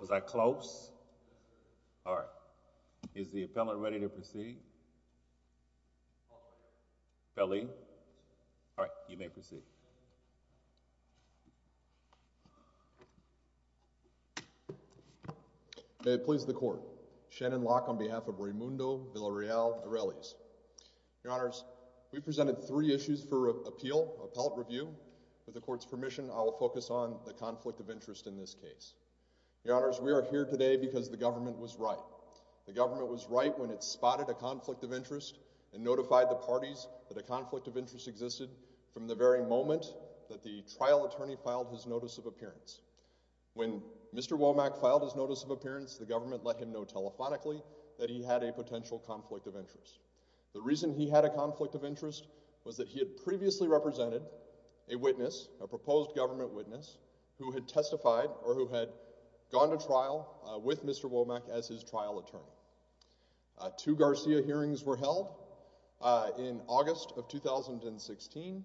Was I close? All right. Is the appellant ready to proceed? Appellee? All right, you may proceed. May it please the court. Shannon Locke on behalf of Reymundo Villarreal-Arelis. Your Honors, we presented three issues for appeal, appellate review. With the conflict of interest in this case. Your Honors, we are here today because the government was right. The government was right when it spotted a conflict of interest and notified the parties that a conflict of interest existed from the very moment that the trial attorney filed his notice of appearance. When Mr. Womack filed his notice of appearance, the government let him know telephonically that he had a potential conflict of interest. The reason he had a conflict of interest was that he had previously represented a witness, a who had testified or who had gone to trial with Mr. Womack as his trial attorney. Two Garcia hearings were held in August of 2016.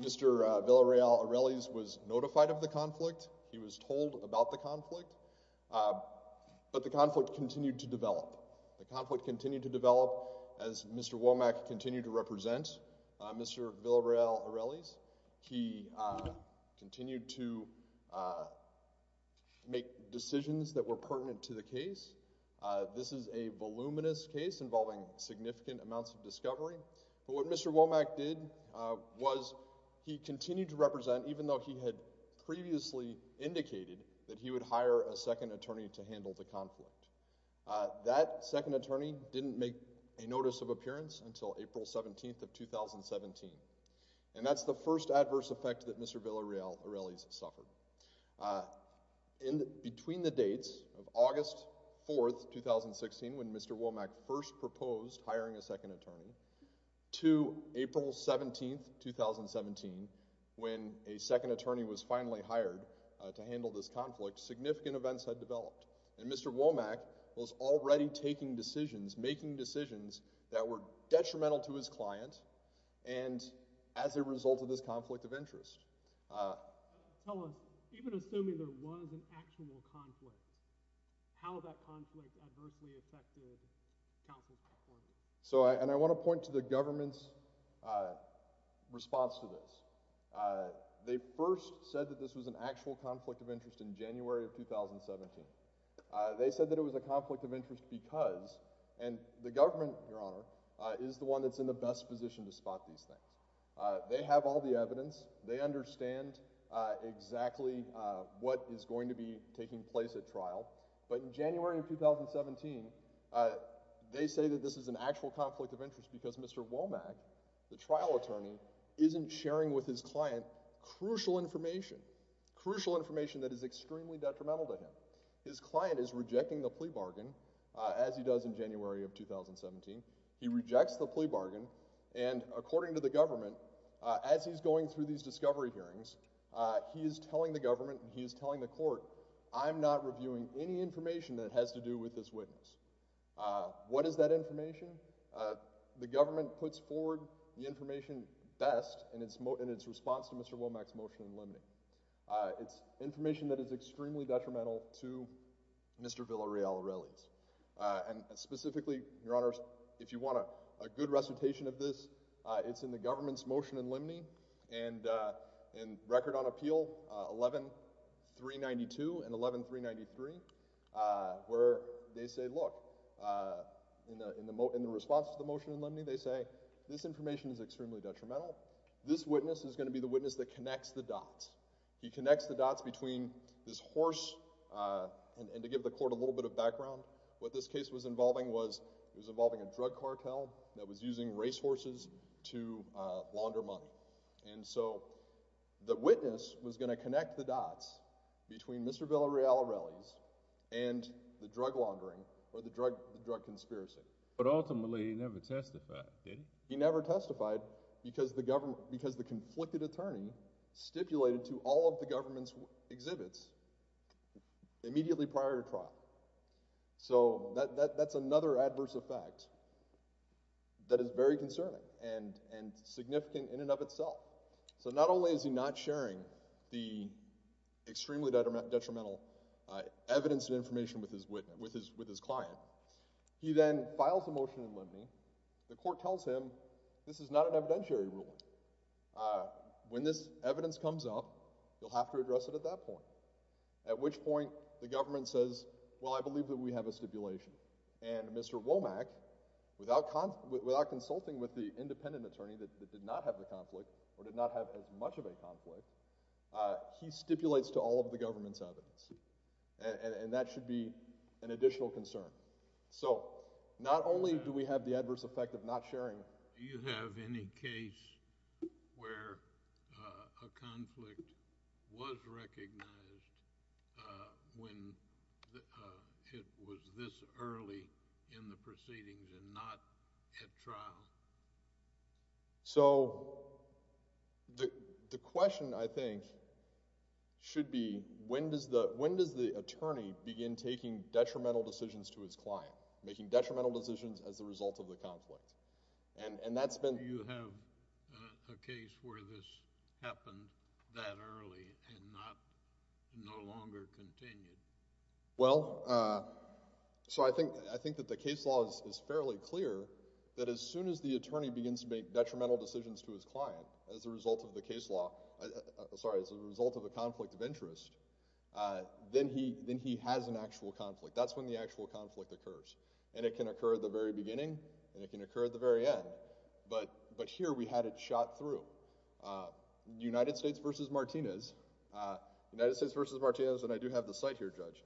Mr. Villarreal-Arelis was notified of the conflict. He was told about the conflict, but the conflict continued to develop. The conflict continued to develop as Mr. Womack continued to represent Mr. Villarreal-Arelis. He continued to make decisions that were pertinent to the case. This is a voluminous case involving significant amounts of discovery, but what Mr. Womack did was he continued to represent even though he had previously indicated that he would hire a second attorney to handle the conflict. That second attorney didn't make a notice of April 17th of 2017, and that's the first adverse effect that Mr. Villarreal-Arelis suffered. Between the dates of August 4th, 2016, when Mr. Womack first proposed hiring a second attorney, to April 17th, 2017, when a second attorney was finally hired to handle this conflict, significant events had developed, and Mr. Womack was already taking decisions, making decisions that were detrimental to his client, and as a result of this conflict of interest. Tell us, even assuming there was an actual conflict, how that conflict adversely affected counsel's performance. So, and I want to point to the government's response to this. They first said that this was an actual conflict of interest in January of 2017. They said that it was a conflict of interest because, and the government, Your Honor, is the one that's in the best position to spot these things. They have all the evidence. They understand exactly what is going to be taking place at trial, but in January of 2017, they say that this is an actual conflict of interest because Mr. Womack, the trial attorney, isn't sharing with his client crucial information, crucial information that is extremely detrimental to him. His client is rejecting the plea bargain, as he does in January of 2017. He rejects the plea bargain, and according to the government, as he's going through these discovery hearings, he is telling the government, he is telling the court, I'm not reviewing any information that has to do with this witness. What is that information? The government puts forward the information best in its response to Mr. Womack's motion in relation to Mr. Villarreal-Aureli's, and specifically, Your Honor, if you want a good recitation of this, it's in the government's motion in Limney and in Record on Appeal 11-392 and 11-393, where they say, look, in the response to the motion in Limney, they say this information is extremely detrimental. This witness is going to be the witness that connects the dots. He and to give the court a little bit of background, what this case was involving was, it was involving a drug cartel that was using racehorses to launder money, and so the witness was going to connect the dots between Mr. Villarreal-Aureli's and the drug laundering or the drug conspiracy. But ultimately, he never testified, did he? He never testified because the government, because the conflicted attorney stipulated to all of the prior to trial. So that's another adverse effect that is very concerning and significant in and of itself. So not only is he not sharing the extremely detrimental evidence and information with his client, he then files a motion in Limney. The court tells him this is not an evidentiary ruling. When this evidence comes up, you'll have to address it at that point, at which point the government says, well, I believe that we have a stipulation. And Mr. Womack, without consulting with the independent attorney that did not have the conflict or did not have as much of a conflict, he stipulates to all of the government's evidence, and that should be an additional concern. So not only do we have the adverse effect of not sharing Do you have any case where a conflict was recognized when it was this early in the proceedings and not at trial? So the question, I think, should be when does the, when does the attorney begin taking detrimental decisions to his client, making detrimental decisions as a result of the conflict? And that's been Do you have a case where this happened that early and not, no longer continued? Well, so I think, I think that the case law is fairly clear that as soon as the attorney begins to make detrimental decisions to his client as a result of the case law, sorry, as a result of a conflict of interest, then he, then he has an actual conflict. That's when the actual conflict occurs. And it can occur at the very beginning, and it can occur at the very end. But, but here we had it shot through. United States v. Martinez, United States v. Martinez, and I do have the cite here, Judge.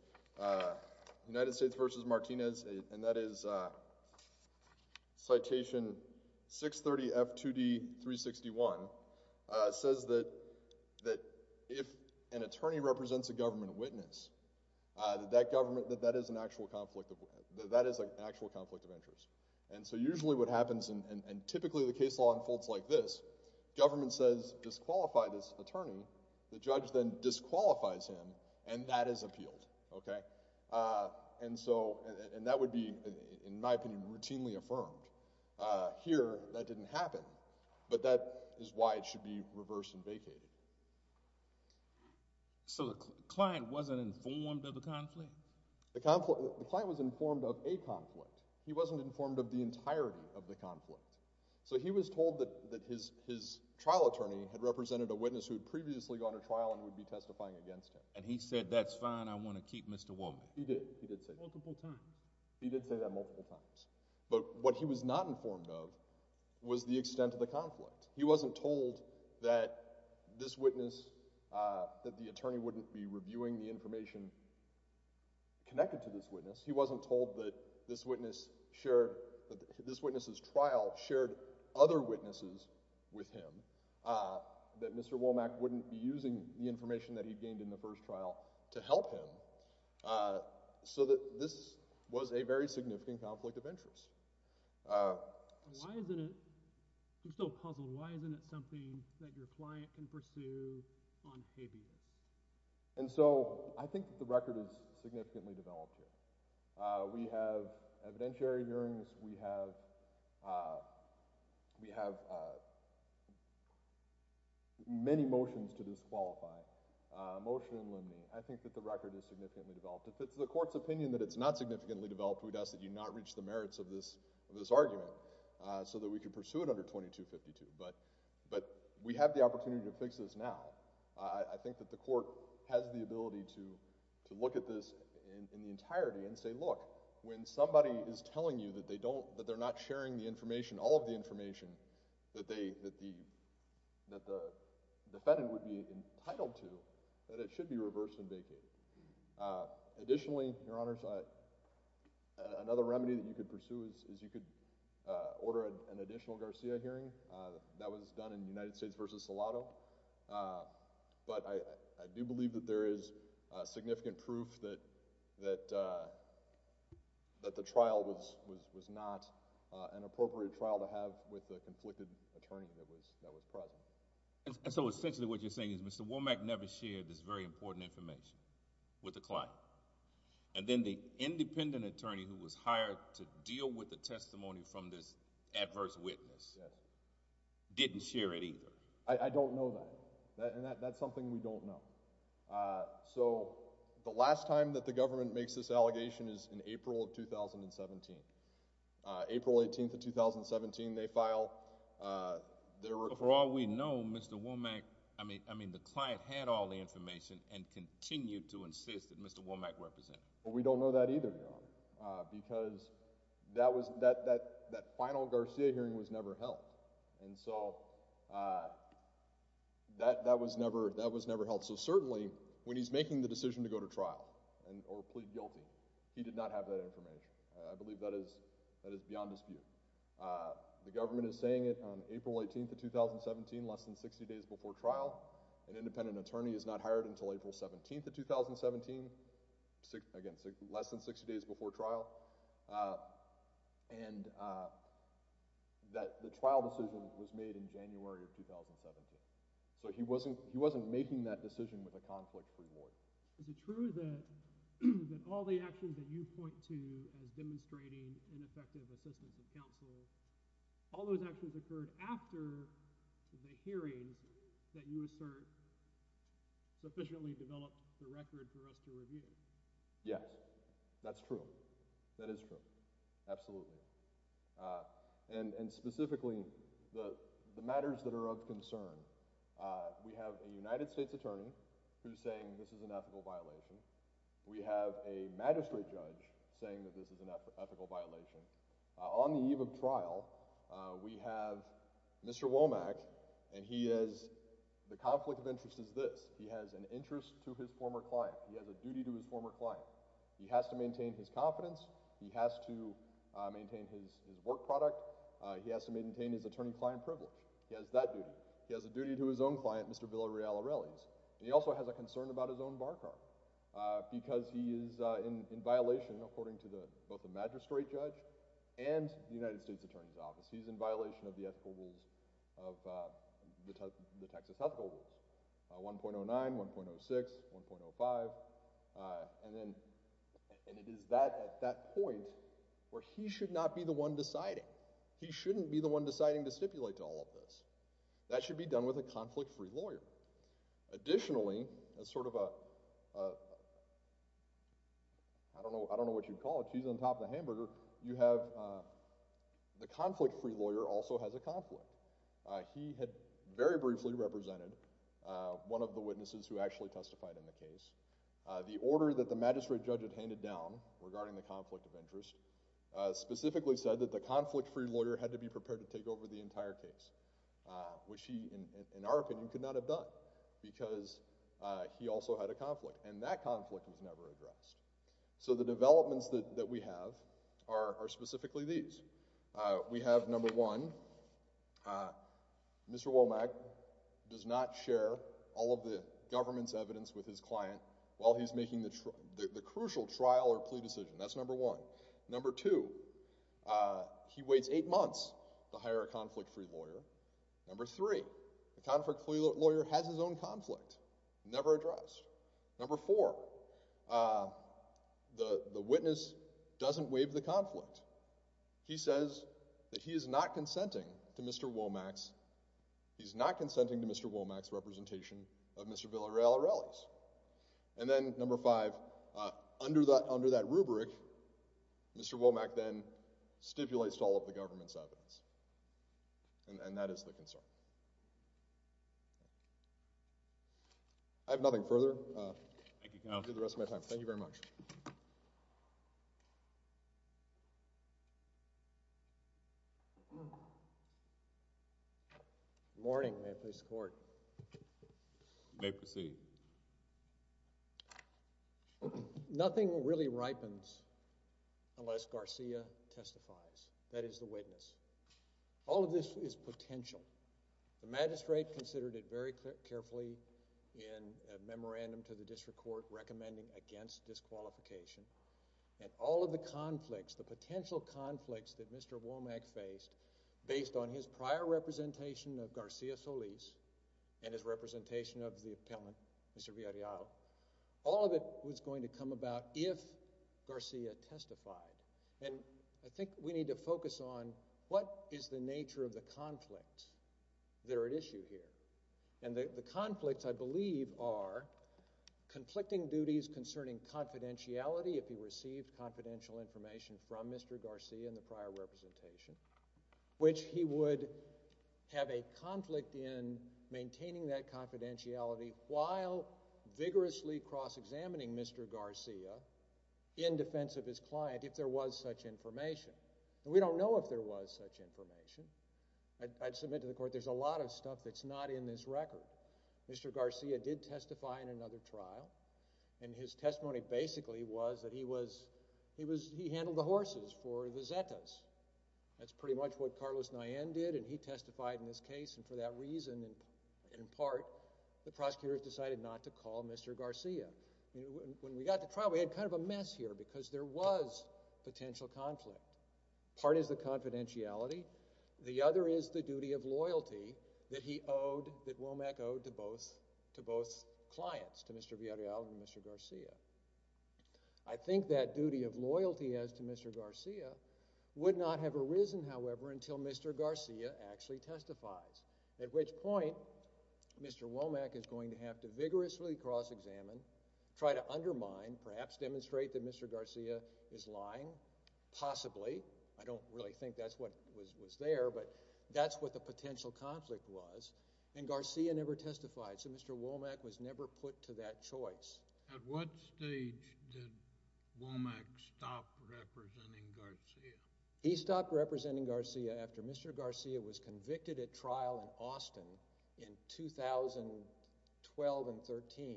United States v. Martinez, and that is citation 630F2D361, says that, that if an attorney represents a government witness, that that government, that that is an actual conflict of, that that is an actual conflict of interest. And so usually what happens, and typically the case law unfolds like this, government says disqualify this attorney, the judge then disqualifies him, and that is appealed. Okay? And so, and that would be, in my opinion, why it should be reversed and vacated. So the client wasn't informed of the conflict? The conflict, the client was informed of a conflict. He wasn't informed of the entirety of the conflict. So he was told that, that his, his trial attorney had represented a witness who had previously gone to trial and would be testifying against him. And he said, that's fine, I want to keep Mr. Wolman. He did, he did say that. Multiple times. He did say that multiple times. But what he was not told that this witness, that the attorney wouldn't be reviewing the information connected to this witness. He wasn't told that this witness shared, that this witness's trial shared other witnesses with him. That Mr. Womack wouldn't be using the information that he gained in the first trial to help him. So that this was a very significant conflict of interest. Why isn't it, I'm still puzzled, why isn't it something that your client can pursue on pay view? And so, I think the record is significantly developed here. We have evidentiary hearings, we have, we have many motions to disqualify. Motion in limine. I think that the record is significantly developed. If it's the court's opinion that it's not significantly developed, who does it, you cannot reach the merits of this, of this argument. So that we can pursue it under 2252. But, but we have the opportunity to fix this now. I think that the court has the ability to, to look at this in the entirety and say, look, when somebody is telling you that they don't, that they're not sharing the information, all of the information, that they, that the, that the defendant would be entitled to, that it should be reversed and vacated. Additionally, your honors, another remedy that you could pursue is, is you could order an additional Garcia hearing. That was done in the United States versus Salado. But I, I do believe that there is significant proof that, that, that the trial was, was, was not an appropriate trial to have with the conflicted attorney that was, that was present. And so essentially what you're saying is Mr. Womack never shared this very important information with the client. And then the independent attorney who was hired to deal with the testimony from this adverse witness didn't share it either. I don't know that. That's something we don't know. So the last time that the government makes this allegation is in April of 2017. April 18th of 2017, they I mean, I mean the client had all the information and continued to insist that Mr. Womack represent. Well, we don't know that either, your honor, because that was, that, that, that final Garcia hearing was never held. And so that, that was never, that was never held. So certainly when he's making the decision to go to trial and, or plead guilty, he did not have that information. I believe that is, that is beyond dispute. The government is saying it on April 18th of 2017, less than 60 days before trial. An independent attorney is not hired until April 17th of 2017. Again, less than 60 days before trial. And that the trial decision was made in January of 2017. So he wasn't, he wasn't making that decision with a conflict-free warrant. Is it true that all the actions that you point to as demonstrating ineffective assistance of counsel, all those actions occurred after the hearings that you assert sufficiently developed the record for us to review? Yes, that's true. That is true. Absolutely. And, and specifically the the matters that are of concern. We have a United States attorney who's saying this is an ethical violation. We have a magistrate judge saying that this is an ethical violation. On the eve of trial, we have Mr. Womack, and he is, the conflict of interest is this. He has an interest to his former client. He has a duty to his former client. He has to maintain his confidence. He has to maintain his work product. He has to maintain his attorney-client privilege. He has that duty. He has a duty to his own client, Mr. Villareal Arellis. And he also has a concern about his own bar card, because he is in violation according to the, both the magistrate judge and the United States Attorney's Office. He's in violation of the ethical rules, of the Texas ethical rules, 1.09, 1.06, 1.05. And then, and it is that at that point where he should not be the one deciding. He shouldn't be the one deciding to stipulate to all of this. That should be done with a conflict-free lawyer. Additionally, as sort of a, I don't know what you'd call it, cheese on top of the hamburger, you have, the conflict-free lawyer also has a conflict. He had very briefly represented one of the witnesses who actually testified in the case. The order that the magistrate judge had handed down regarding the conflict of interest specifically said that the conflict-free lawyer had to be prepared to take over the entire case, which he, in our opinion, could not have done, because he also had a conflict. And that conflict was never addressed. So the developments that we have are specifically these. We have, number one, Mr. Womack does not share all of the government's evidence with his client while he's making the crucial trial or plea decision. That's number one. Number two, he waits eight months to hire a conflict-free lawyer. Number three, the conflict-free lawyer has his own conflict, never addressed. Number four, the witness doesn't waive the conflict. He says that he is not consenting to Mr. Womack's, he's not consenting to Mr. Womack's representation of Mr. Villarela's. And then number five, under that, under that rubric, Mr. Womack then stipulates all of the government's evidence. And that is the witness. All of this is potential. The magistrate considered it very carefully in a memorandum to the district court recommending against disqualification. And all of the conflicts, the potential conflicts that Mr. Womack faced, based on his prior representation of Garcia Solis and his representation of the appellant, Mr. Villareal, all of it was going to come about if Garcia testified. And I think we need to focus on what is the nature of the conflict that are at stake. And what I believe are conflicting duties concerning confidentiality, if he received confidential information from Mr. Garcia in the prior representation, which he would have a conflict in maintaining that confidentiality while vigorously cross-examining Mr. Garcia in defense of his client if there was such information. And we don't know if there was such information. I'd submit to the that Mr. Garcia did testify in another trial. And his testimony basically was that he handled the horses for the Zetas. That's pretty much what Carlos Nayen did. And he testified in this case. And for that reason, in part, the prosecutors decided not to call Mr. Garcia. When we got to trial, we had kind of a mess here because there was potential conflict. Part is the confidentiality. The other is the duty of loyalty that he owed, that Womack owed to both clients, to Mr. Villarreal and Mr. Garcia. I think that duty of loyalty as to Mr. Garcia would not have arisen, however, until Mr. Garcia actually testifies. At which point, Mr. Womack is going to have to vigorously cross-examine, try to undermine, perhaps demonstrate that Mr. Garcia is lying, possibly. I don't really think that's what was there, but that's what the potential conflict was. And Garcia never testified, so Mr. Womack was never put to that choice. At what stage did Womack stop representing Garcia? He stopped representing Garcia after Mr. Garcia was convicted at trial in Austin in 2012 and 13.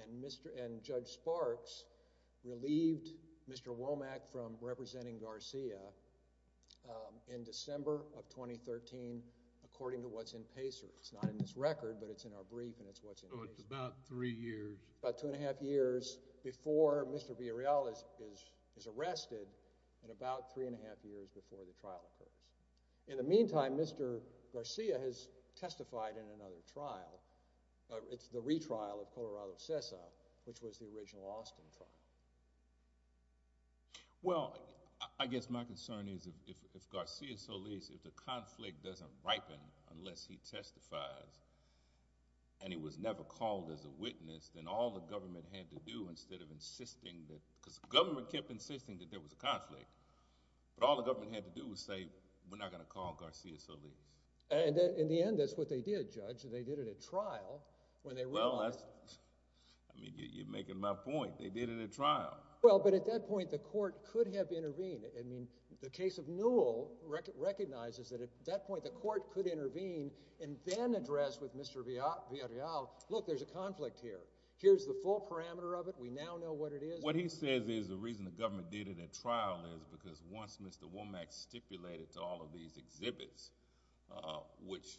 And Judge Sparks relieved Mr. Womack from representing Garcia. So it's about three years. About two and a half years before Mr. Villarreal is arrested and about three and a half years before the trial occurs. In the meantime, Mr. Garcia has testified in another trial. It's the retrial of Colorado SESA, which was the original Austin trial. Well, I guess my concern is if Garcia Solis, if the conflict doesn't ripen unless he testifies and he was never called as a witness, then all the government had to do instead of insisting that—because the government kept insisting that there was a conflict, but all the government had to do was say, we're not going to call Garcia Solis. And in the end, that's what they did, Judge. They did it at trial when they realized— Well, that's—I mean, you're making my point. They did it at trial. Well, but at that point, the court could have intervened. I mean, the case of Newell recognizes that at that point, the court could intervene and then address with Mr. Villarreal, look, there's a conflict here. Here's the full parameter of it. We now know what it is. What he says is the reason the government did it at trial is because once Mr. Womack stipulated to all of these exhibits, which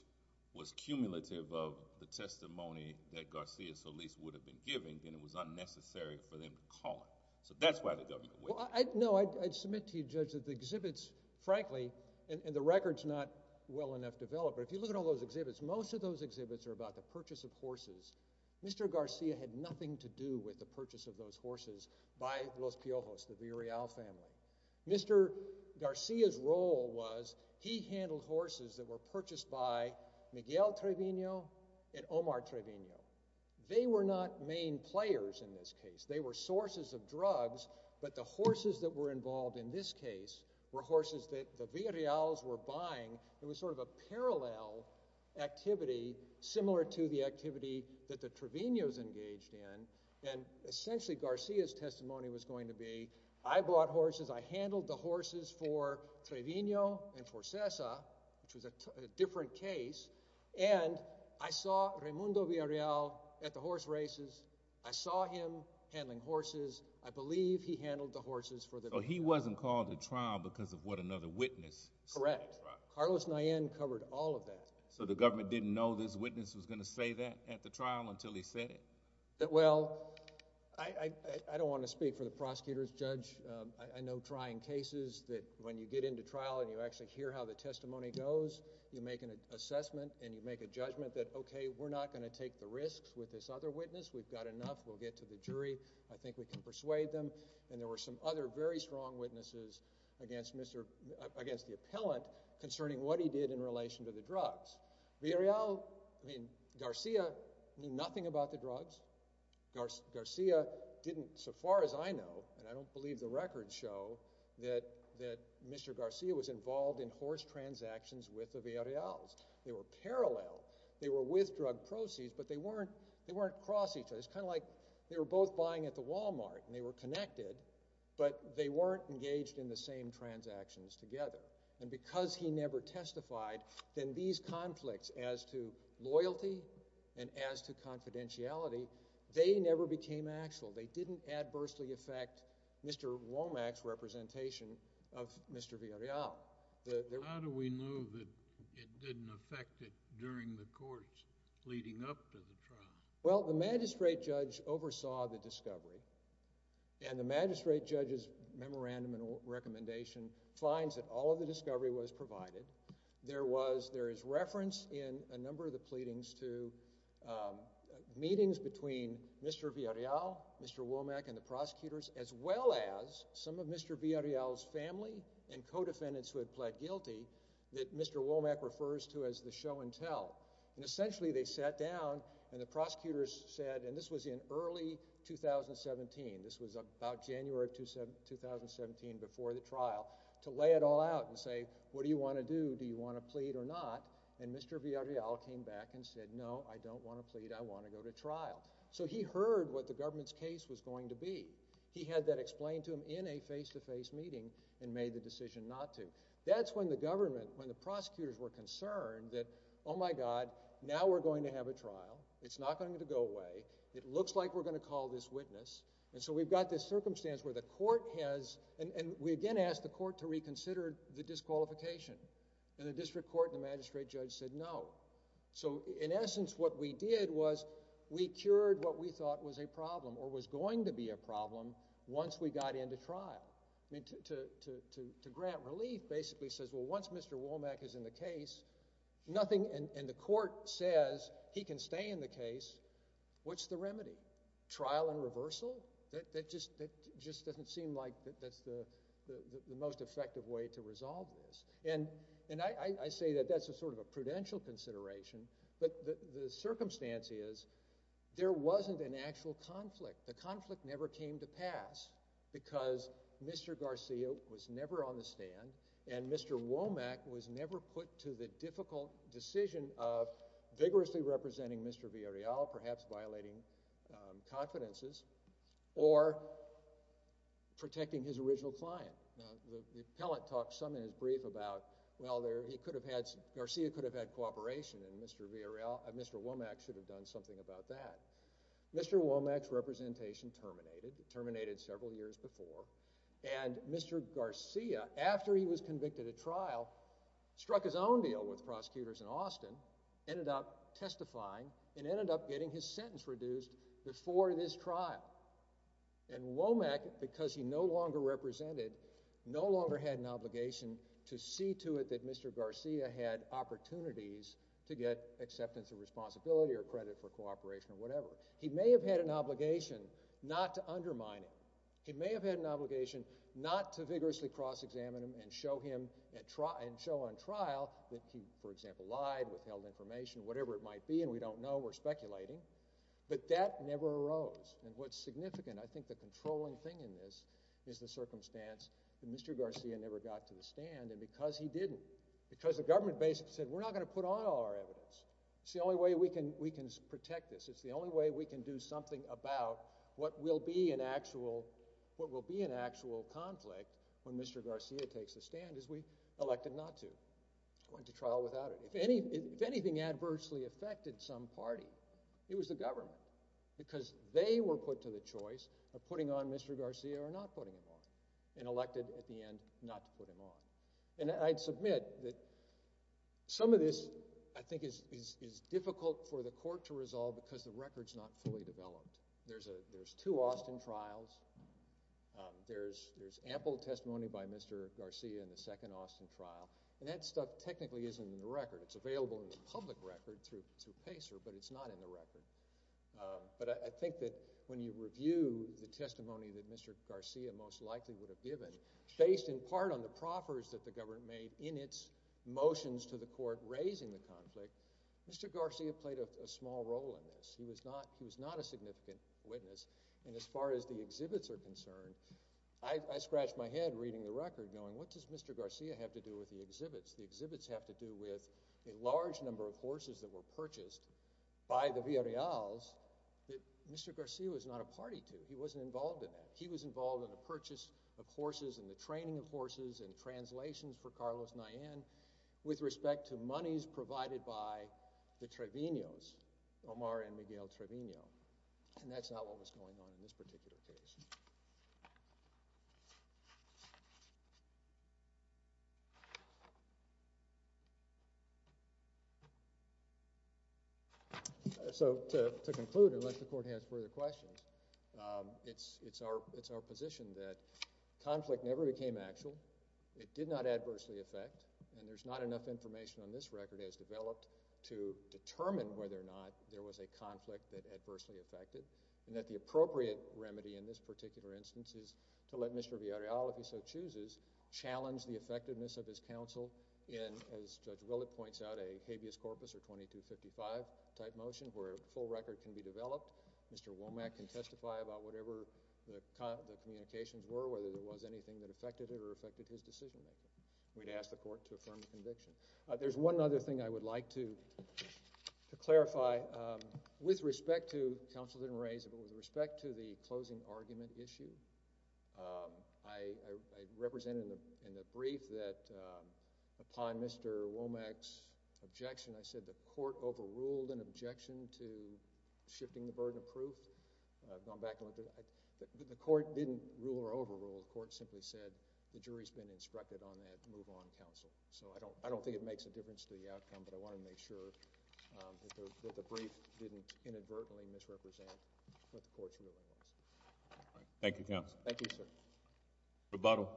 was cumulative of the testimony that Garcia Solis would have been given, then it was unnecessary for the government to wait. No, I'd submit to you, Judge, that the exhibits, frankly, and the record's not well enough developed, but if you look at all those exhibits, most of those exhibits are about the purchase of horses. Mr. Garcia had nothing to do with the purchase of those horses by Los Piojos, the Villarreal family. Mr. Garcia's role was he handled horses that were purchased by Miguel Trevino and Omar Trevino. They were not main players in this case. They were sources of the horses that were involved in this case were horses that the Villarreal's were buying. It was sort of a parallel activity similar to the activity that the Trevino's engaged in, and essentially Garcia's testimony was going to be, I bought horses, I handled the horses for Trevino and for Cesar, which was a different case, and I saw Raymundo Villarreal at the horse races. I saw him handling horses. I believe he handled the horses for the... So he wasn't called to trial because of what another witness... Correct. Carlos Nayen covered all of that. So the government didn't know this witness was going to say that at the trial until he said it? Well, I don't want to speak for the prosecutors, Judge. I know trying cases that when you get into trial and you actually hear how the testimony goes, you make an assessment and you make a judgment. I think we've got enough. We'll get to the jury. I think we can persuade them. And there were some other very strong witnesses against the appellant concerning what he did in relation to the drugs. Villarreal, I mean, Garcia knew nothing about the drugs. Garcia didn't, so far as I know, and I don't believe the records show, that Mr. Garcia was involved in horse transactions with the Villarreal's. They were parallel. They were with drug proceeds, but they weren't cross each other. It's kind of like they were both buying at the Walmart and they were connected, but they weren't engaged in the same transactions together. And because he never testified, then these conflicts as to loyalty and as to confidentiality, they never became actual. They didn't adversely affect Mr. Womack's representation of Mr. Villarreal. How do we know that it didn't affect it during the courts leading up to the trial? Well, the magistrate judge oversaw the discovery, and the magistrate judge's memorandum and recommendation finds that all of the discovery was provided. There is reference in a number of the pleadings to meetings between Mr. Villarreal, Mr. Womack, and the prosecutors, as well as some of Mr. Villarreal's family and co-defendants who had pled guilty that Mr. Womack refers to as the show-and-tell. And essentially, they sat down and the prosecutors said, and this was in early 2017, this was about January of 2017 before the trial, to lay it all out and say, what do you want to do? Do you want to plead or not? And Mr. Villarreal came back and said, no, I don't want to plead. I want to go to trial. So he heard what the government's case was going to be. He had that explained to him in a face-to-face meeting and made the decision not to. That's when the government, when the prosecutors were concerned that, oh my god, now we're going to have a trial. It's not going to go away. It looks like we're going to call this witness. And so we've got this circumstance where the court has, and we again asked the court to reconsider the disqualification, and the district court and the magistrate judge said no. So in essence, what we did was we cured what we thought was a problem or was going to be a problem once we got into trial. I mean, to grant relief basically says, well, once Mr. Womack is in the case, nothing, and the court says he can stay in the case. What's the remedy? Trial and reversal? That just doesn't seem like that's the most effective way to resolve this. And I say that that's a sort of a prudential consideration, but the circumstance is there wasn't an actual conflict. The conflict never came to pass because Mr. Garcia was never on the stand and Mr. Womack was never put to the difficult decision of vigorously representing Mr. Villarreal, perhaps violating confidences, or protecting his original client. Now, the appellant talked some in his brief about, well, he could have had, Garcia could have had cooperation, and Mr. Villarreal, Mr. Womack should have done something about that. Mr. Womack's representation terminated. It terminated several years before, and Mr. Garcia, after he was convicted at trial, struck his own deal with prosecutors in Austin, ended up testifying, and ended up getting his sentence reduced before this trial. And Womack, because he no longer represented, no longer had an obligation to see to it that Mr. Garcia had opportunities to get acceptance of responsibility or credit for cooperation or whatever. He may have had an obligation not to undermine him. He may have had an obligation not to vigorously cross-examine him and show him at trial, and show on trial that he, for example, lied, withheld information, whatever it might be, and we don't know, we're speculating, but that never arose. And what's significant, I think the controlling thing in this, is the circumstance that Mr. Garcia never got to the stand, and because he didn't, because the government basically said, we're not going to put on all our evidence. It's the only way we can, we can protect this. It's the only way we can do something about what will be an actual, what will be an actual conflict when Mr. Garcia takes the stand, as we elected not to. Went to trial without it. If any, if anything adversely affected some party, it was the not putting him on, and elected at the end not to put him on. And I'd submit that some of this, I think, is difficult for the court to resolve because the record's not fully developed. There's a, there's two Austin trials. There's ample testimony by Mr. Garcia in the second Austin trial, and that stuff technically isn't in the record. It's available in the public record through PACER, but it's not in the record. But I think that when you review the testimony that Mr. Garcia most likely would have given, based in part on the proffers that the government made in its motions to the court raising the conflict, Mr. Garcia played a small role in this. He was not, he was not a significant witness, and as far as the exhibits are concerned, I scratched my head reading the record going, what does Mr. Garcia have to do with the exhibits? The exhibits have to do with a large number of horses that were purchased by the Villarreal's that Mr. Garcia was not a party to. He wasn't involved in that. He was involved in the purchase of horses and the training of horses and translations for Carlos Nayen with respect to monies provided by the Trevino's, Omar and Miguel Trevino, and that's not what was going on in this particular case. So, to conclude, unless the court has further questions, it's our position that conflict never became actual. It did not adversely affect, and there's not enough information on this record as developed to determine whether or not there was a conflict that adversely affected, and that the issue that we have in this particular instance is to let Mr. Villarreal, if he so chooses, challenge the effectiveness of his counsel in, as Judge Willett points out, a habeas corpus or 2255-type motion where a full record can be developed. Mr. Womack can testify about whatever the communications were, whether there was anything that affected it or affected his decision-making. We'd ask the court to affirm the conviction. There's one other thing I would like to clarify with respect to, counsel didn't raise it, but with respect to the closing argument issue, I represented in the brief that upon Mr. Womack's objection, I said the court overruled an objection to shifting the burden of proof. I've gone back a little bit. The court didn't rule or overrule. The court simply said the jury's been instructed on that move on counsel. So, I don't think it inadvertently misrepresented what the court's ruling was. Thank you, counsel. Thank you, sir. Rebuttal.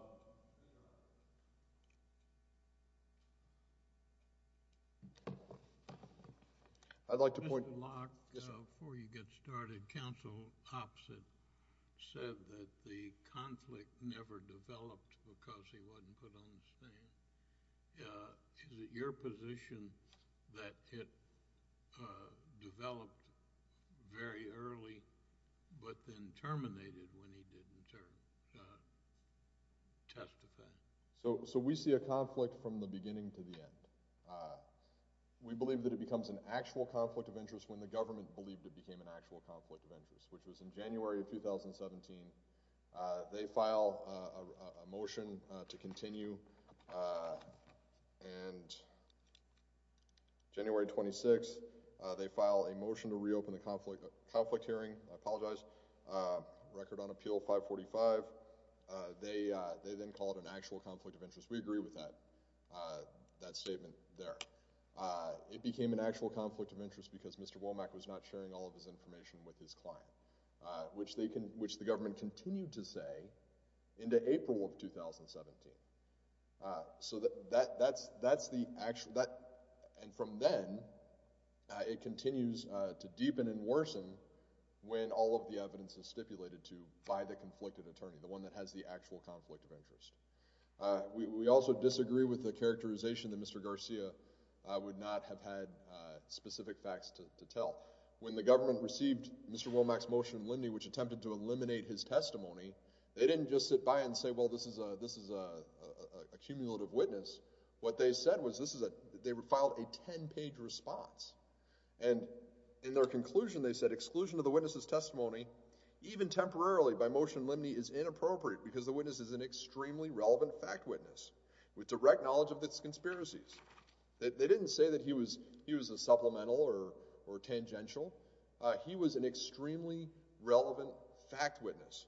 I'd like to point... Mr. Locke, before you get started, counsel opposite said that the conflict never developed because he wasn't put on the stand. Is it your position that it developed very early but then terminated when he didn't testify? So, we see a conflict from the beginning to the end. We believe that it becomes an actual conflict of interest when the government believed it became an actual conflict of interest, which was in January of 2017. They file a motion to continue, and January 26, they file a motion to reopen the conflict hearing. I apologize. Record on appeal 545. They then call it an actual conflict of interest. We agree with that statement there. It became an actual conflict of interest because Mr. Womack was not sharing all of his information with his client, which the government continued to say into April of 2017. So, that's the actual... And from then, it continues to deepen and worsen when all of the evidence is stipulated to by the conflicted attorney, the one that has the actual conflict of interest. We also disagree with the characterization that Mr. Garcia would not have had specific facts to tell. When the government received Mr. Womack's motion in Lindy, which didn't just sit by and say, well, this is a cumulative witness. What they said was they filed a 10-page response. And in their conclusion, they said, exclusion of the witness's testimony, even temporarily by motion in Lindy is inappropriate because the witness is an extremely relevant fact witness with direct knowledge of its conspiracies. They didn't say that he was a supplemental or tangential. He was an extremely relevant fact witness.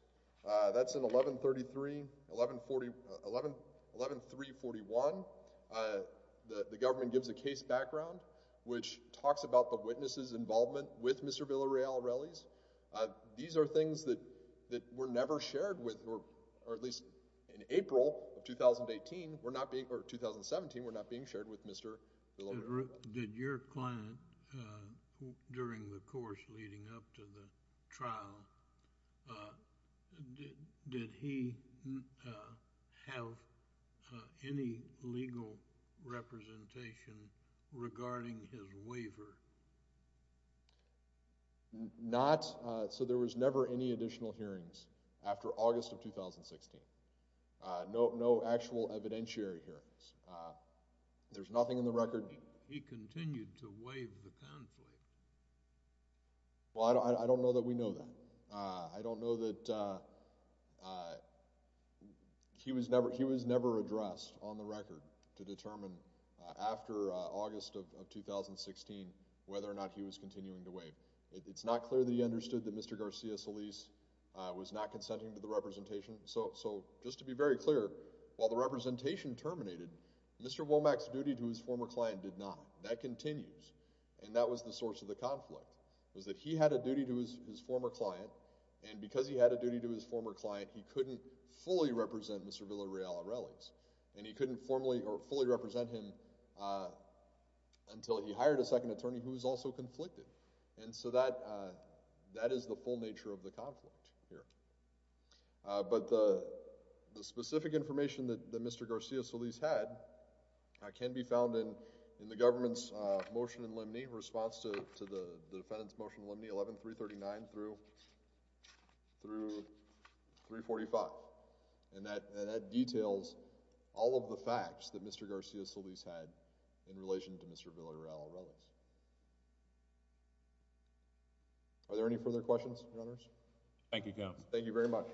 That's in 1133, 1141. The government gives a case background which talks about the witness's involvement with Mr. Villareal's rallies. These are things that were never shared with, or at least in April of 2018, we're not being, or 2017, we're not being shared with Mr. Villareal. Did your client, during the course leading up to the trial, did he have any legal representation regarding his waiver? Not, so there was never any additional hearings after August of 2016. No actual evidentiary hearings. There's nothing in the record. He continued to waive the conflict. Well, I don't know that we know that. I don't know that he was never addressed on the record to determine after August of 2016 whether or not he was continuing to waive. It's not clear that he understood that Mr. Garcia Solis was not consenting to the representation. So just to be very clear, while the representation terminated, Mr. Womack's duty to his former client did not. That continues, and that was the source of the conflict, was that he had a duty to his former client, and because he had a duty to his former client, he couldn't fully represent Mr. Villareal at rallies, and he couldn't formally or fully represent him until he hired a second attorney who was also conflicted, and so that is the full nature of the conflict here. But the specific information that Mr. Garcia Solis had can be found in the government's motion in limine, response to the defendant's motion in limine 11-339 through 345, and that details all of the facts that Mr. Garcia Solis had in relation to Mr. Villareal at rallies. Are there any further questions, Your Honors? Thank you, Counsel. Thank you very much.